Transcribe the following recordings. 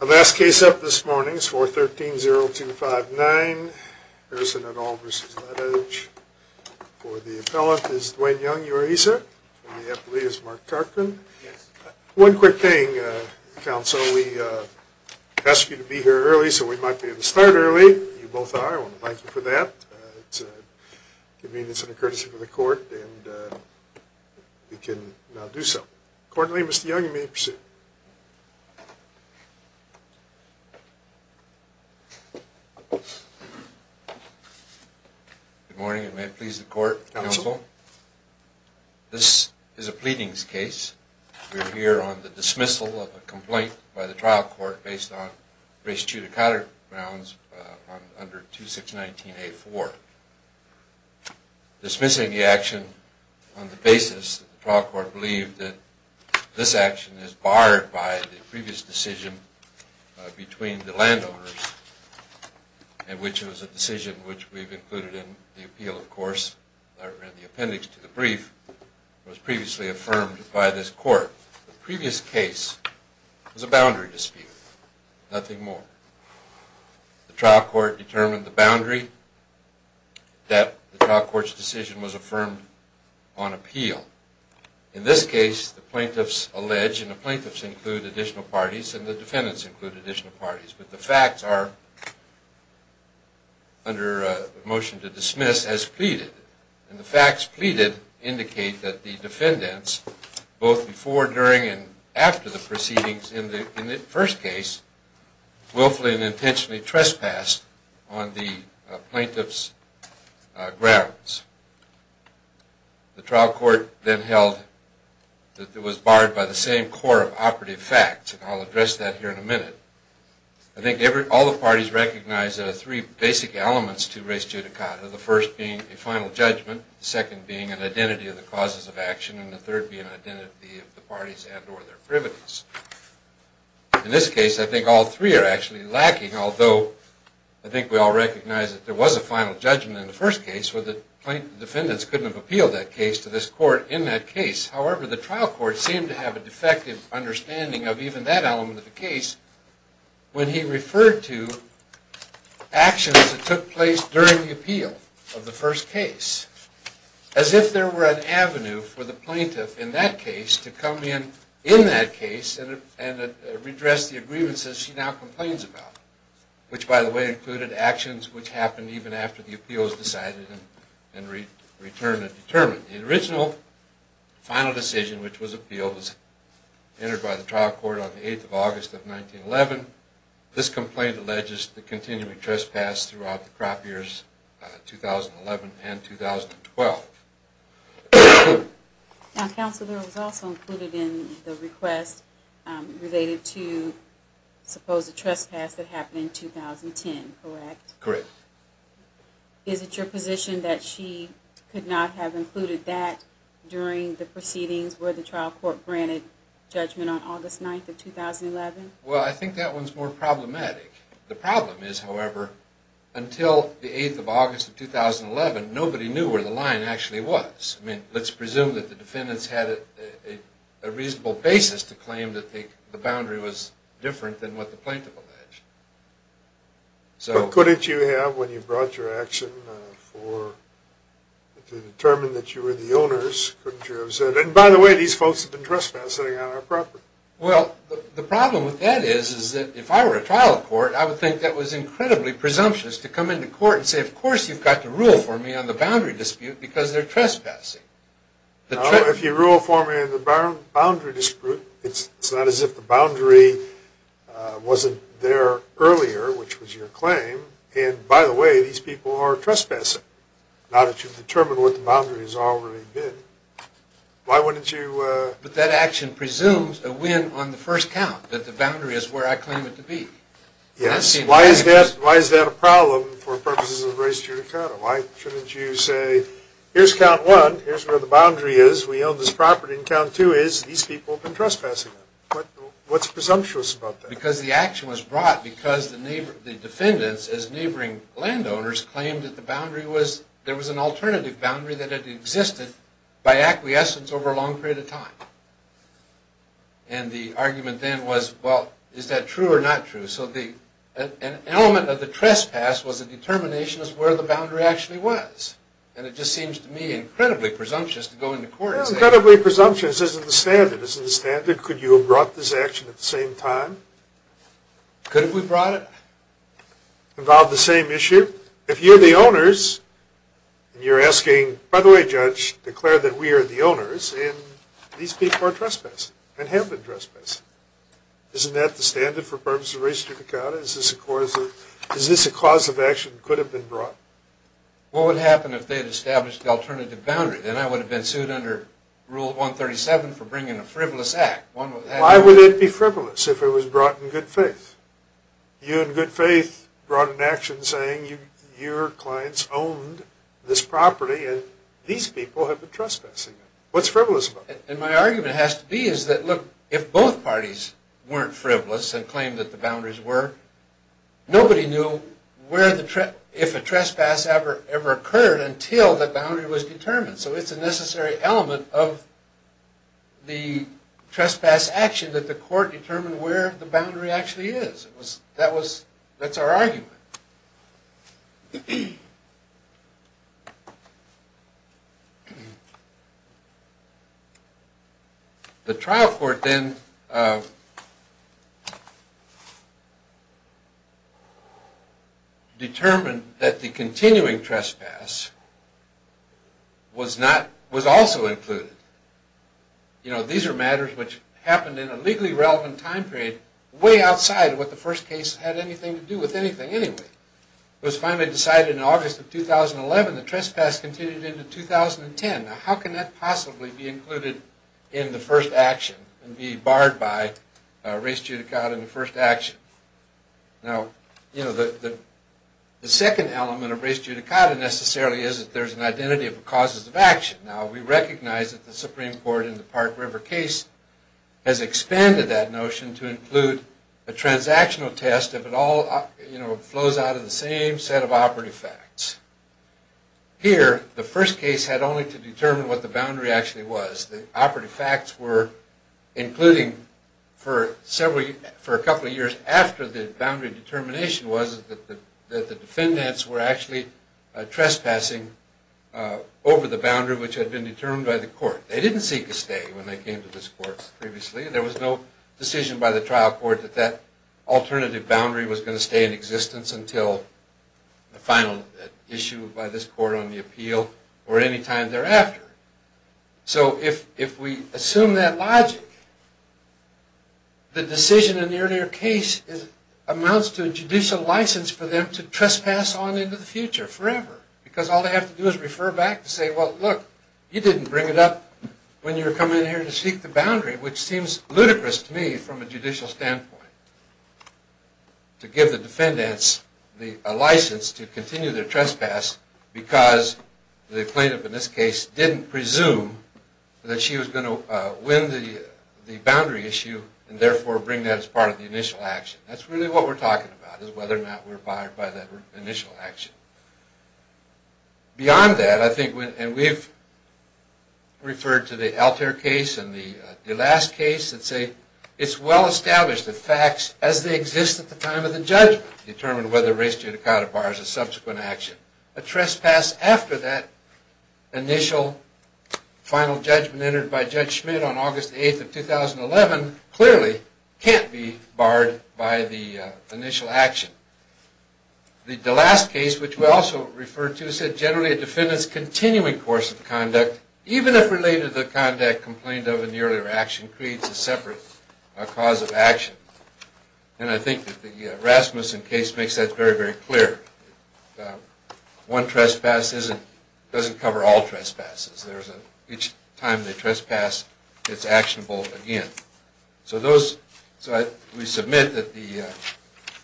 A last case up this morning is 413-0259, Harrison et al. v. Ladage. For the appellant is Dwayne Young, URESA, and the appellee is Mark Tarkin. One quick thing, counsel, we asked you to be here early, so we might be able to start early. You both are. I want to thank you for that. It's a convenience and a courtesy for the court, and we can now do so. Accordingly, Mr. Young, you may proceed. Good morning, and may it please the court, counsel, this is a pleadings case. We're here on the dismissal of a complaint by the trial court based on race judicata grounds under 2619A4. Dismissing the action on the basis that the trial court believed that this action is barred by the previous decision between the landowners, and which was a decision which we've included in the appeal, of course, and the appendix to the brief was previously affirmed by this court. The previous case was a boundary dispute, nothing more. The trial court determined the boundary that the trial court's decision was affirmed on appeal. In this case, the plaintiffs allege, and the plaintiffs include additional parties, and the defendants include additional parties, but the facts are, under motion to dismiss, as pleaded. And the facts pleaded indicate that the defendants, both before, during, and after the proceedings in the first case, willfully and intentionally trespassed on the plaintiff's grounds. The trial court then held that it was barred by the same core of operative facts, and I'll address that here in a minute. I think all the parties recognize there are three basic elements to race judicata, the first being a final judgment, the second being an identity of the causes of action, and the third being an identity of the parties and or their privileges. In this case, I think all three are actually lacking, although I think we all recognize that there was a final judgment in the first case where the plaintiff defendants couldn't have appealed that case to this court in that case. However, the trial court seemed to have a defective understanding of even that element of the case when he referred to actions that took place during the appeal of the first case, as if there were an avenue for the plaintiff in that case to come in in that case and redress the aggrievances she now complains about, which by the way included actions which happened even after the appeals decided and returned and determined. The original final decision, which was appealed, was entered by the trial court on the 8th of August of 1911. This complaint alleges the continuing trespass throughout the crop years 2011 and 2012. Now, counselor was also included in the request related to, suppose, a trespass that happened in 2010, correct? Correct. Is it your position that she could not have included that during the proceedings where the trial court granted judgment on August 9th of 2011? Well, I think that one's more problematic. The problem is, however, until the 8th of August of 2011, nobody knew where the line actually was. I mean, let's presume that the defendants had a reasonable basis to claim that the boundary was different than what the plaintiff alleged. But couldn't you have, when you brought your action, to determine that you were the owners, couldn't you have said, and by the way, these folks have been trespassing on our property? Well, the problem with that is, is that if I were a trial court, I would think that was incredibly presumptuous to come into court and say, of course, you've got to rule for me on the boundary dispute because they're trespassing. If you rule for me on the boundary dispute, it's not as if the boundary wasn't there earlier, which was your claim, and by the way, these people are trespassing, now that you've determined what the boundary has already been. Why wouldn't you... But that action presumes a win on the first count, that the boundary is where I Why is that a problem for purposes of race judicata? Why shouldn't you say, here's count one, here's where the boundary is, we own this property, and count two is, these people have been trespassing on it. What's presumptuous about that? Because the action was brought because the defendants, as neighboring landowners, claimed that there was an alternative boundary that had existed by acquiescence over a long period of time. And the argument then was, well, is that true or not true? So an element of the trespass was a determination as to where the boundary actually was. And it just seems to me incredibly presumptuous to go into court and say... Well, incredibly presumptuous isn't the standard. Isn't the standard, could you have brought this action at the same time? Could have we brought it? Involved the same issue? If you're the owners, and you're asking, by the way, judge, declare that we are the owners, and these people are trespassing, and have been trespassing. Isn't that the standard for purpose of registration to count it? Is this a cause of action that could have been brought? What would happen if they had established the alternative boundary? Then I would have been sued under Rule 137 for bringing a frivolous act. Why would it be frivolous if it was brought in good faith? You, in good faith, brought an action saying your clients owned this property, and these people have been trespassing. What's frivolous about that? And my argument has to be is that, look, if both parties weren't frivolous and claimed that the boundaries were, nobody knew if a trespass ever occurred until the boundary was determined. So it's a necessary element of the trespass action that the court determine where the boundary actually is. That's our argument. The trial court then determined that the continuing trespass was also included. You know, these are matters which happened in a legally relevant time period, way outside of what the first case had anything to do with anything anyway. It was finally decided in August of 2011, the trespass continued into 2010. Now, how can that possibly be included in the first action and be barred by res judicata in the first action? Now, you know, the second element of res judicata necessarily is that there's an identity of the causes of action. Now, we recognize that the Supreme Court in the Park River case has expanded that notion to include a transactional test if it all flows out of the same set of operative facts. Here, the first case had only to determine what the boundary actually was. The operative facts were including for several, for a couple of years after the boundary determination was that the defendants were actually trespassing over the boundary which had been determined by the court. They didn't seek a stay when they came to this court previously and there was no decision by the trial court that that alternative boundary was going to stay in existence until the final issue by this court on the appeal or any time thereafter. So if we assume that logic, the decision in the earlier case amounts to a judicial license for them to trespass on into the future forever because all they have to do is refer back to say, well, look, you didn't bring it up when you were coming in here to seek the boundary, which seems ludicrous to me from a judicial standpoint, to give the defendants a license to continue their trespass because the plaintiff in this case didn't presume that she was going to win the boundary issue and therefore bring that as part of the initial action. That's really what we're talking about is whether or not we're barred by that initial action. Beyond that, I think, and we've referred to the Altair case and the DeLass case that say it's well established that facts as they exist at the time of the judgment determine whether race judicata bars a subsequent action. A trespass after that initial final judgment entered by Judge Schmitt on August 8th of 2011 clearly can't be barred by the initial action. The DeLass case, which we also refer to, said generally a defendant's continuing course of conduct, even if related to the conduct complained of in the earlier action, creates a separate cause of action. And I think that the Rasmussen case makes that very, very clear. One trespass doesn't cover all trespasses. Each time they trespass, it's actionable again. So we submit that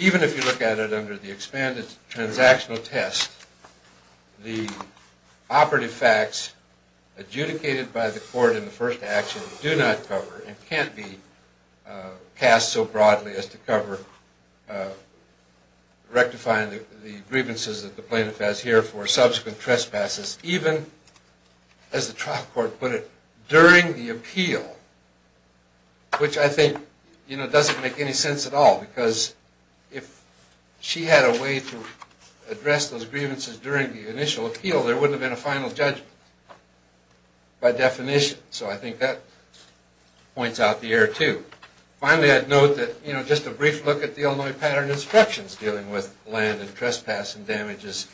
even if you look at it under the expanded transactional test, the operative facts adjudicated by the court in the first action do not cover and can't be cast so broadly as to cover rectifying the grievances that the plaintiff has here for subsequent trespasses, even, as the trial court put it, during the appeal, which I think doesn't make any sense at all. Because if she had a way to address those grievances during the initial appeal, there wouldn't have been a final judgment by definition. So I think that points out the error, too. Finally, I'd note that just a brief look at the Illinois Pattern of Instructions dealing with land and trespassing damages,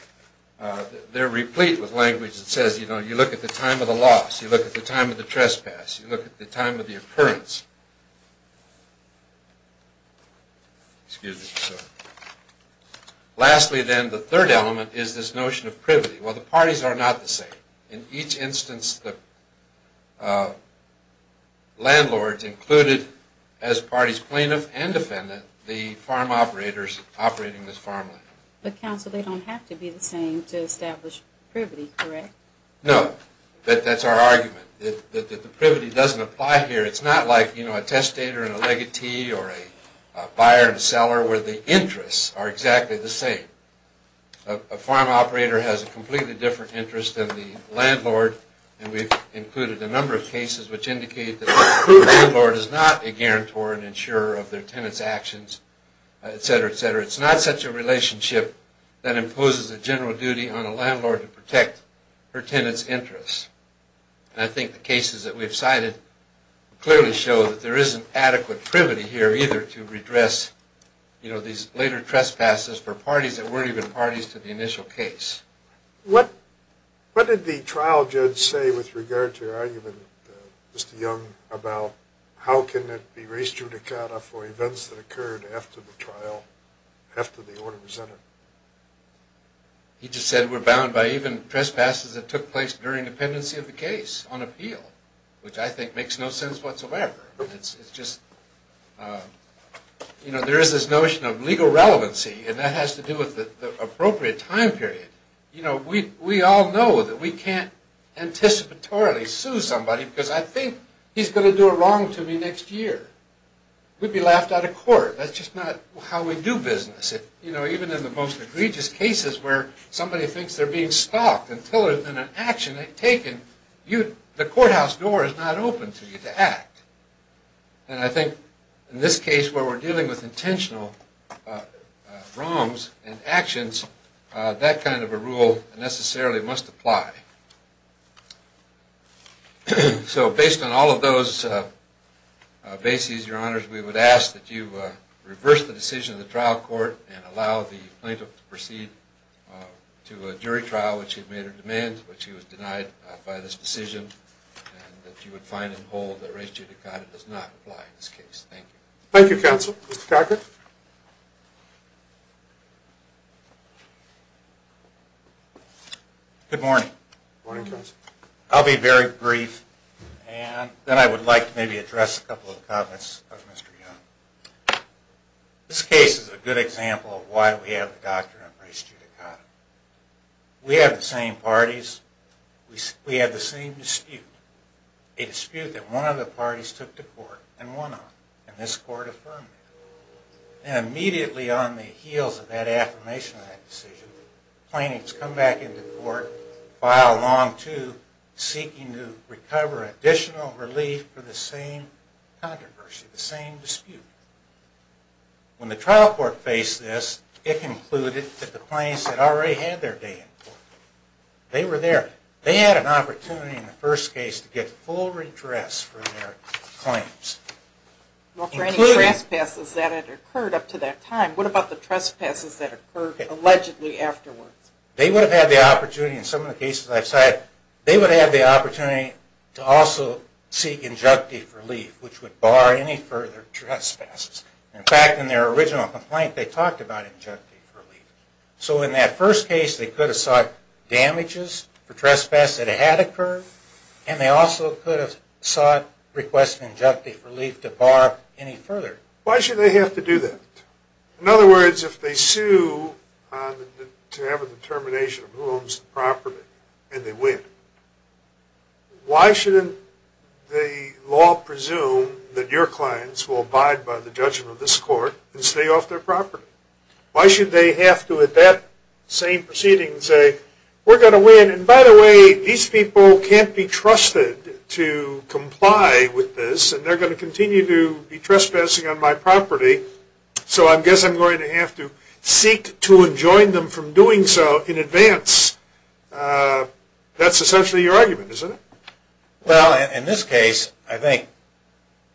they're replete with language that says you look at the time of the loss, you look at the time of the trespass, you look at the time of the loss. Lastly, then, the third element is this notion of privity. Well, the parties are not the same. In each instance, the landlord's included as parties plaintiff and defendant, the farm operators operating this farmland. But counsel, they don't have to be the same to establish privity, correct? No, but that's our argument, that the privity doesn't apply here. It's not like, you know, a testator in a legatee or a buyer and seller, where the interests are exactly the same. A farm operator has a completely different interest than the landlord, and we've included a number of cases which indicate that the landlord is not a guarantor and insurer of their tenant's actions, etc., etc. It's not such a relationship that imposes a general duty on a landlord to protect her tenant's interests. I think the cases that we've presented clearly show that there isn't adequate privity here either to redress, you know, these later trespasses for parties that weren't even parties to the initial case. What did the trial judge say with regard to your argument, Mr. Young, about how can it be res judicata for events that occurred after the trial, after the order was entered? He just said we're bound by even trespasses that took place during the pendency of the case on appeal, which I think makes no sense whatsoever. It's just, you know, there is this notion of legal relevancy, and that has to do with the appropriate time period. You know, we all know that we can't anticipatorily sue somebody because I think he's going to do a wrong to me next year. We'd be laughed out of court. That's just not how we do business. You know, even in the most egregious cases where somebody thinks they're being stalked until an action is taken, the courthouse door is not open to you to act. And I think in this case where we're dealing with intentional wrongs and actions, that kind of a rule necessarily must apply. So based on all of those bases, your honors, we would ask that you reverse the very trial which you've made a demand, which he was denied by this decision, and that you would find and hold that res judicata does not apply in this case. Thank you. Thank you, counsel. Mr. Cockett? Good morning. Morning, counsel. I'll be very brief, and then I would like to maybe address a couple of comments of Mr. Young. This case is a good example of why we have the doctrine of res judicata. We have the same parties, we have the same dispute, a dispute that one of the parties took to court and won on, and this court affirmed it. And immediately on the heels of that affirmation of that decision, plaintiffs come back into court, file Long II, seeking to recover additional relief for the same controversy, the same dispute. When the plaintiff concluded that the plaintiffs had already had their day in court, they were there. They had an opportunity in the first case to get full redress for their claims. Well, for any trespasses that had occurred up to that time, what about the trespasses that occurred allegedly afterwards? They would have had the opportunity, in some of the cases I've cited, they would have had the opportunity to also seek injunctive relief, which would bar any further Why should they have to do that? In other words, if they sue to have a determination of who owns the property and they win, why shouldn't the law presume that your clients will abide by the judgment of this court and stay off their property? Why should they have to, at that same proceeding, say, we're going to win, and by the way, these people can't be trusted to comply with this, and they're going to continue to be trespassing on my property, so I guess I'm going to have to seek to enjoin them from doing so in advance. That's essentially your argument, isn't it? Well, in this case, I think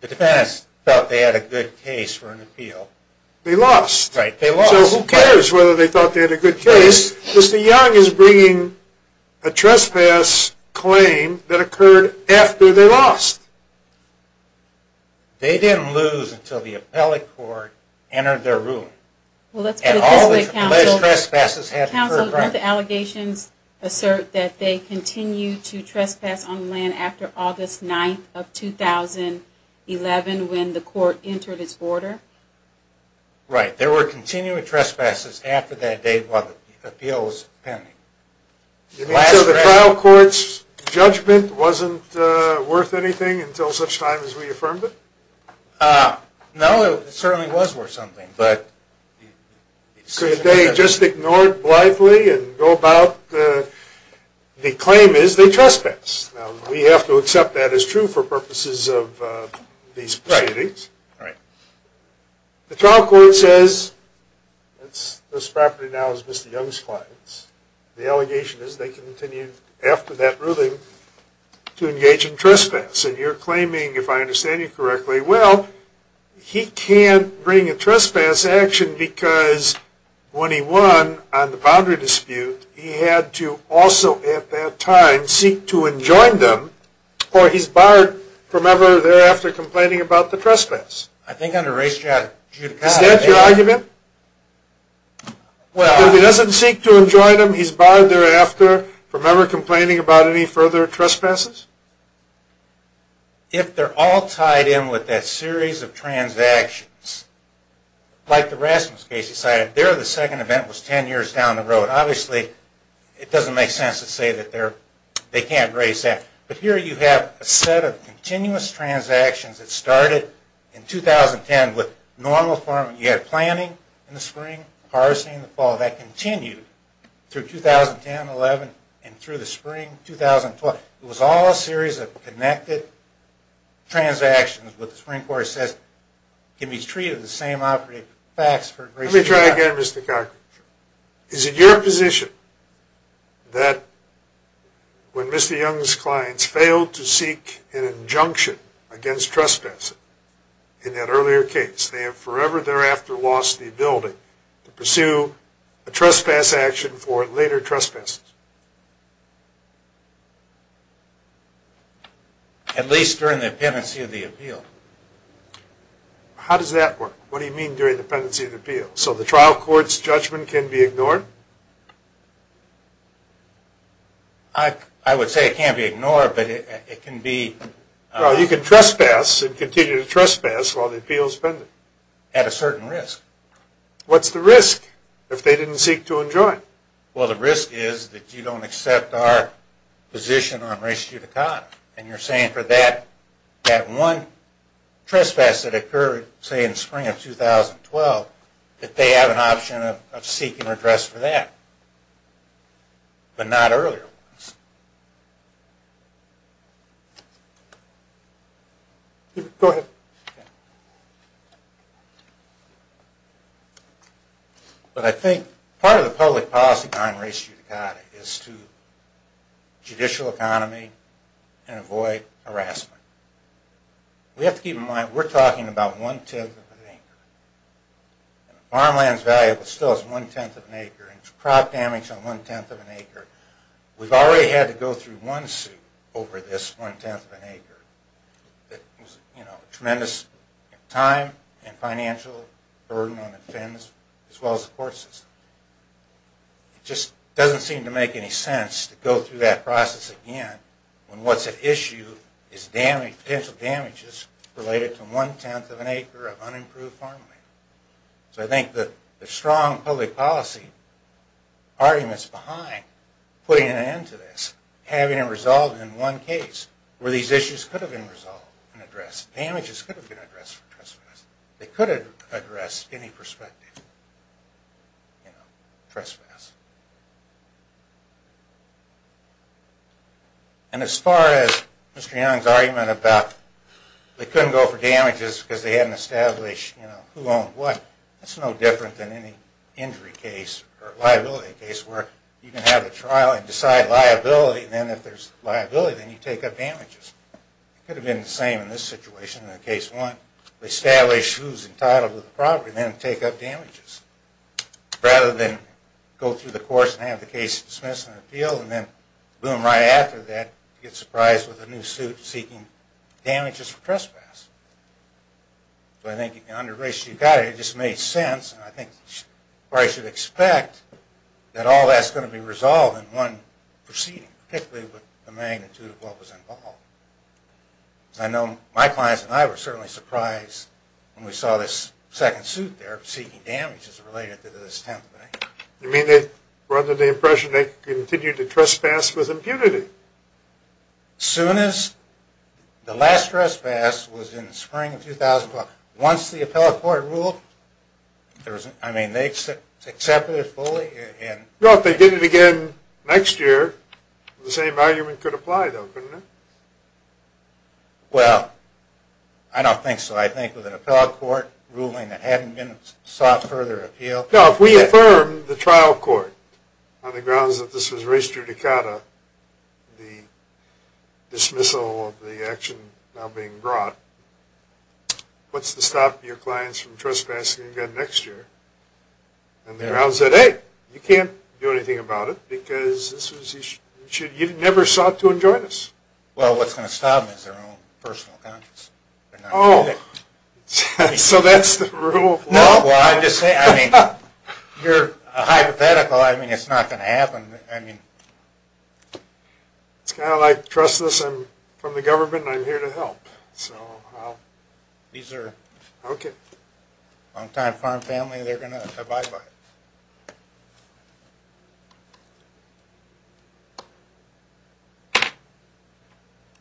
the defendants thought they had a good case for an appeal. They lost. So who cares whether they thought they had a good case? Mr. Young is bringing a trespass claim that occurred after they lost. They didn't lose until the appellate court entered their room. Well, let's put it this way, counsel. Counsel, didn't the allegations assert that they continued to trespass on land after August 9th of 2011 when the court entered its order? Right. There were continuing trespasses after that date while the appeal was pending. You mean to say the trial court's judgment wasn't worth anything until such time as we affirmed it? No, it certainly was worth something, but the decision was not worth anything. Could they just ignore it blithely and go about the claim is they trespass? Now, we have to accept that as true for purposes of these proceedings. Right. The trial court says this property now is Mr. Young's client's. The allegation is they continued after that ruling to engage in trespass, and you're claiming, if I understand you correctly, well, he can't bring a trespass action because when he won on the boundary dispute, he had to also at that time seek to enjoin them, or he's barred from ever thereafter complaining about the trespass. I think under race judicata... Is that your argument? If he doesn't seek to enjoin them, he's barred thereafter from ever complaining about any further trespasses? If they're all tied in with that series of transactions, like the Rasmus case you cited, there the second event was 10 years down the road. Obviously, it doesn't make sense to say that they can't raise that, but here you have a set of continuous transactions that started in 2010 with normal farming, you had planting in the spring, harvesting in the fall, that continued through 2010, 11, and through the spring 2012. It was all a series of connected transactions, but the Supreme Court says it can be treated the same operating facts for race judicata. Let me try again, Mr. Cochran. Is it your position that when Mr. Young's clients failed to seek an injunction against trespassing in that earlier case, they have forever thereafter lost the ability to pursue a trespass action for later trespasses? At least during the pendency of the appeal. How does that work? What do you mean during the pendency of the appeal? So the trial court's judgment can be ignored? I would say it can't be ignored, but it can be... Well, you can trespass and continue to trespass while the appeal's pending. At a certain risk. What's the risk if they didn't seek to enjoin? Well, the risk is that you don't accept our position on race judicata, and you're saying for that one trespass that occurred, say, in the spring of 2012, that they have an option of seeking redress for that, but not earlier ones. Go ahead. But I think part of the public policy behind race judicata is to judicial economy and avoid harassment. We have to keep in mind we're talking about one-tenth of an acre. Farmland's value is still one-tenth of an acre, and it's crop damage on one-tenth of an acre. We've already had to go through one suit over this one-tenth of an acre. It was a tremendous time and financial burden on the defense as well as the court system. It just doesn't seem to make any sense to go through that process again when what's at issue is potential damages related to one-tenth of an acre of unimproved farmland. So I think the strong public policy argument's behind putting an end to this, having it resolved in one case where these issues could have been resolved and addressed. Damages could have been addressed for trespass. They could have addressed any perspective, you know, trespass. And as far as Mr. Young's argument about they couldn't go for damages because they hadn't established, you know, who owned what, that's no different than any injury case or liability case where you can have a trial and decide liability, and then if there's liability, then you take up damages. It could have been the same in this situation, in case one, establish who's entitled to the property, then take up damages, rather than go through the courts and have the case dismissed and appealed, and then, boom, right after that, get surprised with a new suit seeking damages for trespass. So I think under racial eukaryotic, it just made sense, and I think we probably should expect that all that's going to be resolved in one proceeding, particularly with the magnitude of what was involved. I know my clients and I were certainly surprised when we saw this second suit there seeking damages related to this 10th day. You mean they were under the impression they continued to trespass with impunity? Soon as the last trespass was in the spring of 2004. Once the appellate court ruled, I mean, they accepted it fully. Well, if they did it again next year, the same argument could apply, though, couldn't it? Well, I don't think so. I think with an appellate court ruling that hadn't been sought further appeal. No, if we affirmed the trial court on the grounds that this was res judicata, the dismissal of the action now being brought, what's to stop your clients from trespassing again next year? And the grounds that, hey, you can't do anything about it, because you never sought to enjoin us. Well, what's going to stop them is their own personal conscience. Oh, so that's the rule of law? No, well, I just say, I mean, you're hypothetical. I mean, it's not going to happen. I mean, it's kind of like, trust this. I'm from the government, and I'm here to help. So I'll. These are long time farm family. They're going to abide by it.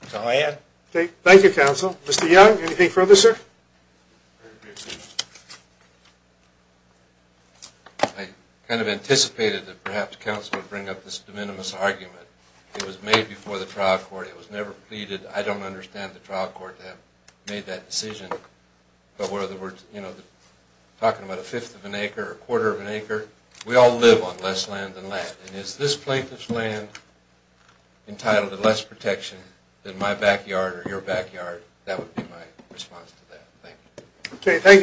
That's all I had. Mr. Young, anything further, sir? Very briefly, I kind of anticipated that perhaps counsel would bring up this de minimis argument. It was made before the trial court. It was never pleaded. I don't understand the trial court to have made that decision. But whether we're talking about a fifth of an acre or a quarter of an acre, we all live on less land than land. And is this plaintiff's land entitled to less protection than my backyard or your backyard? That would be my response to that. OK, thank you, counsel.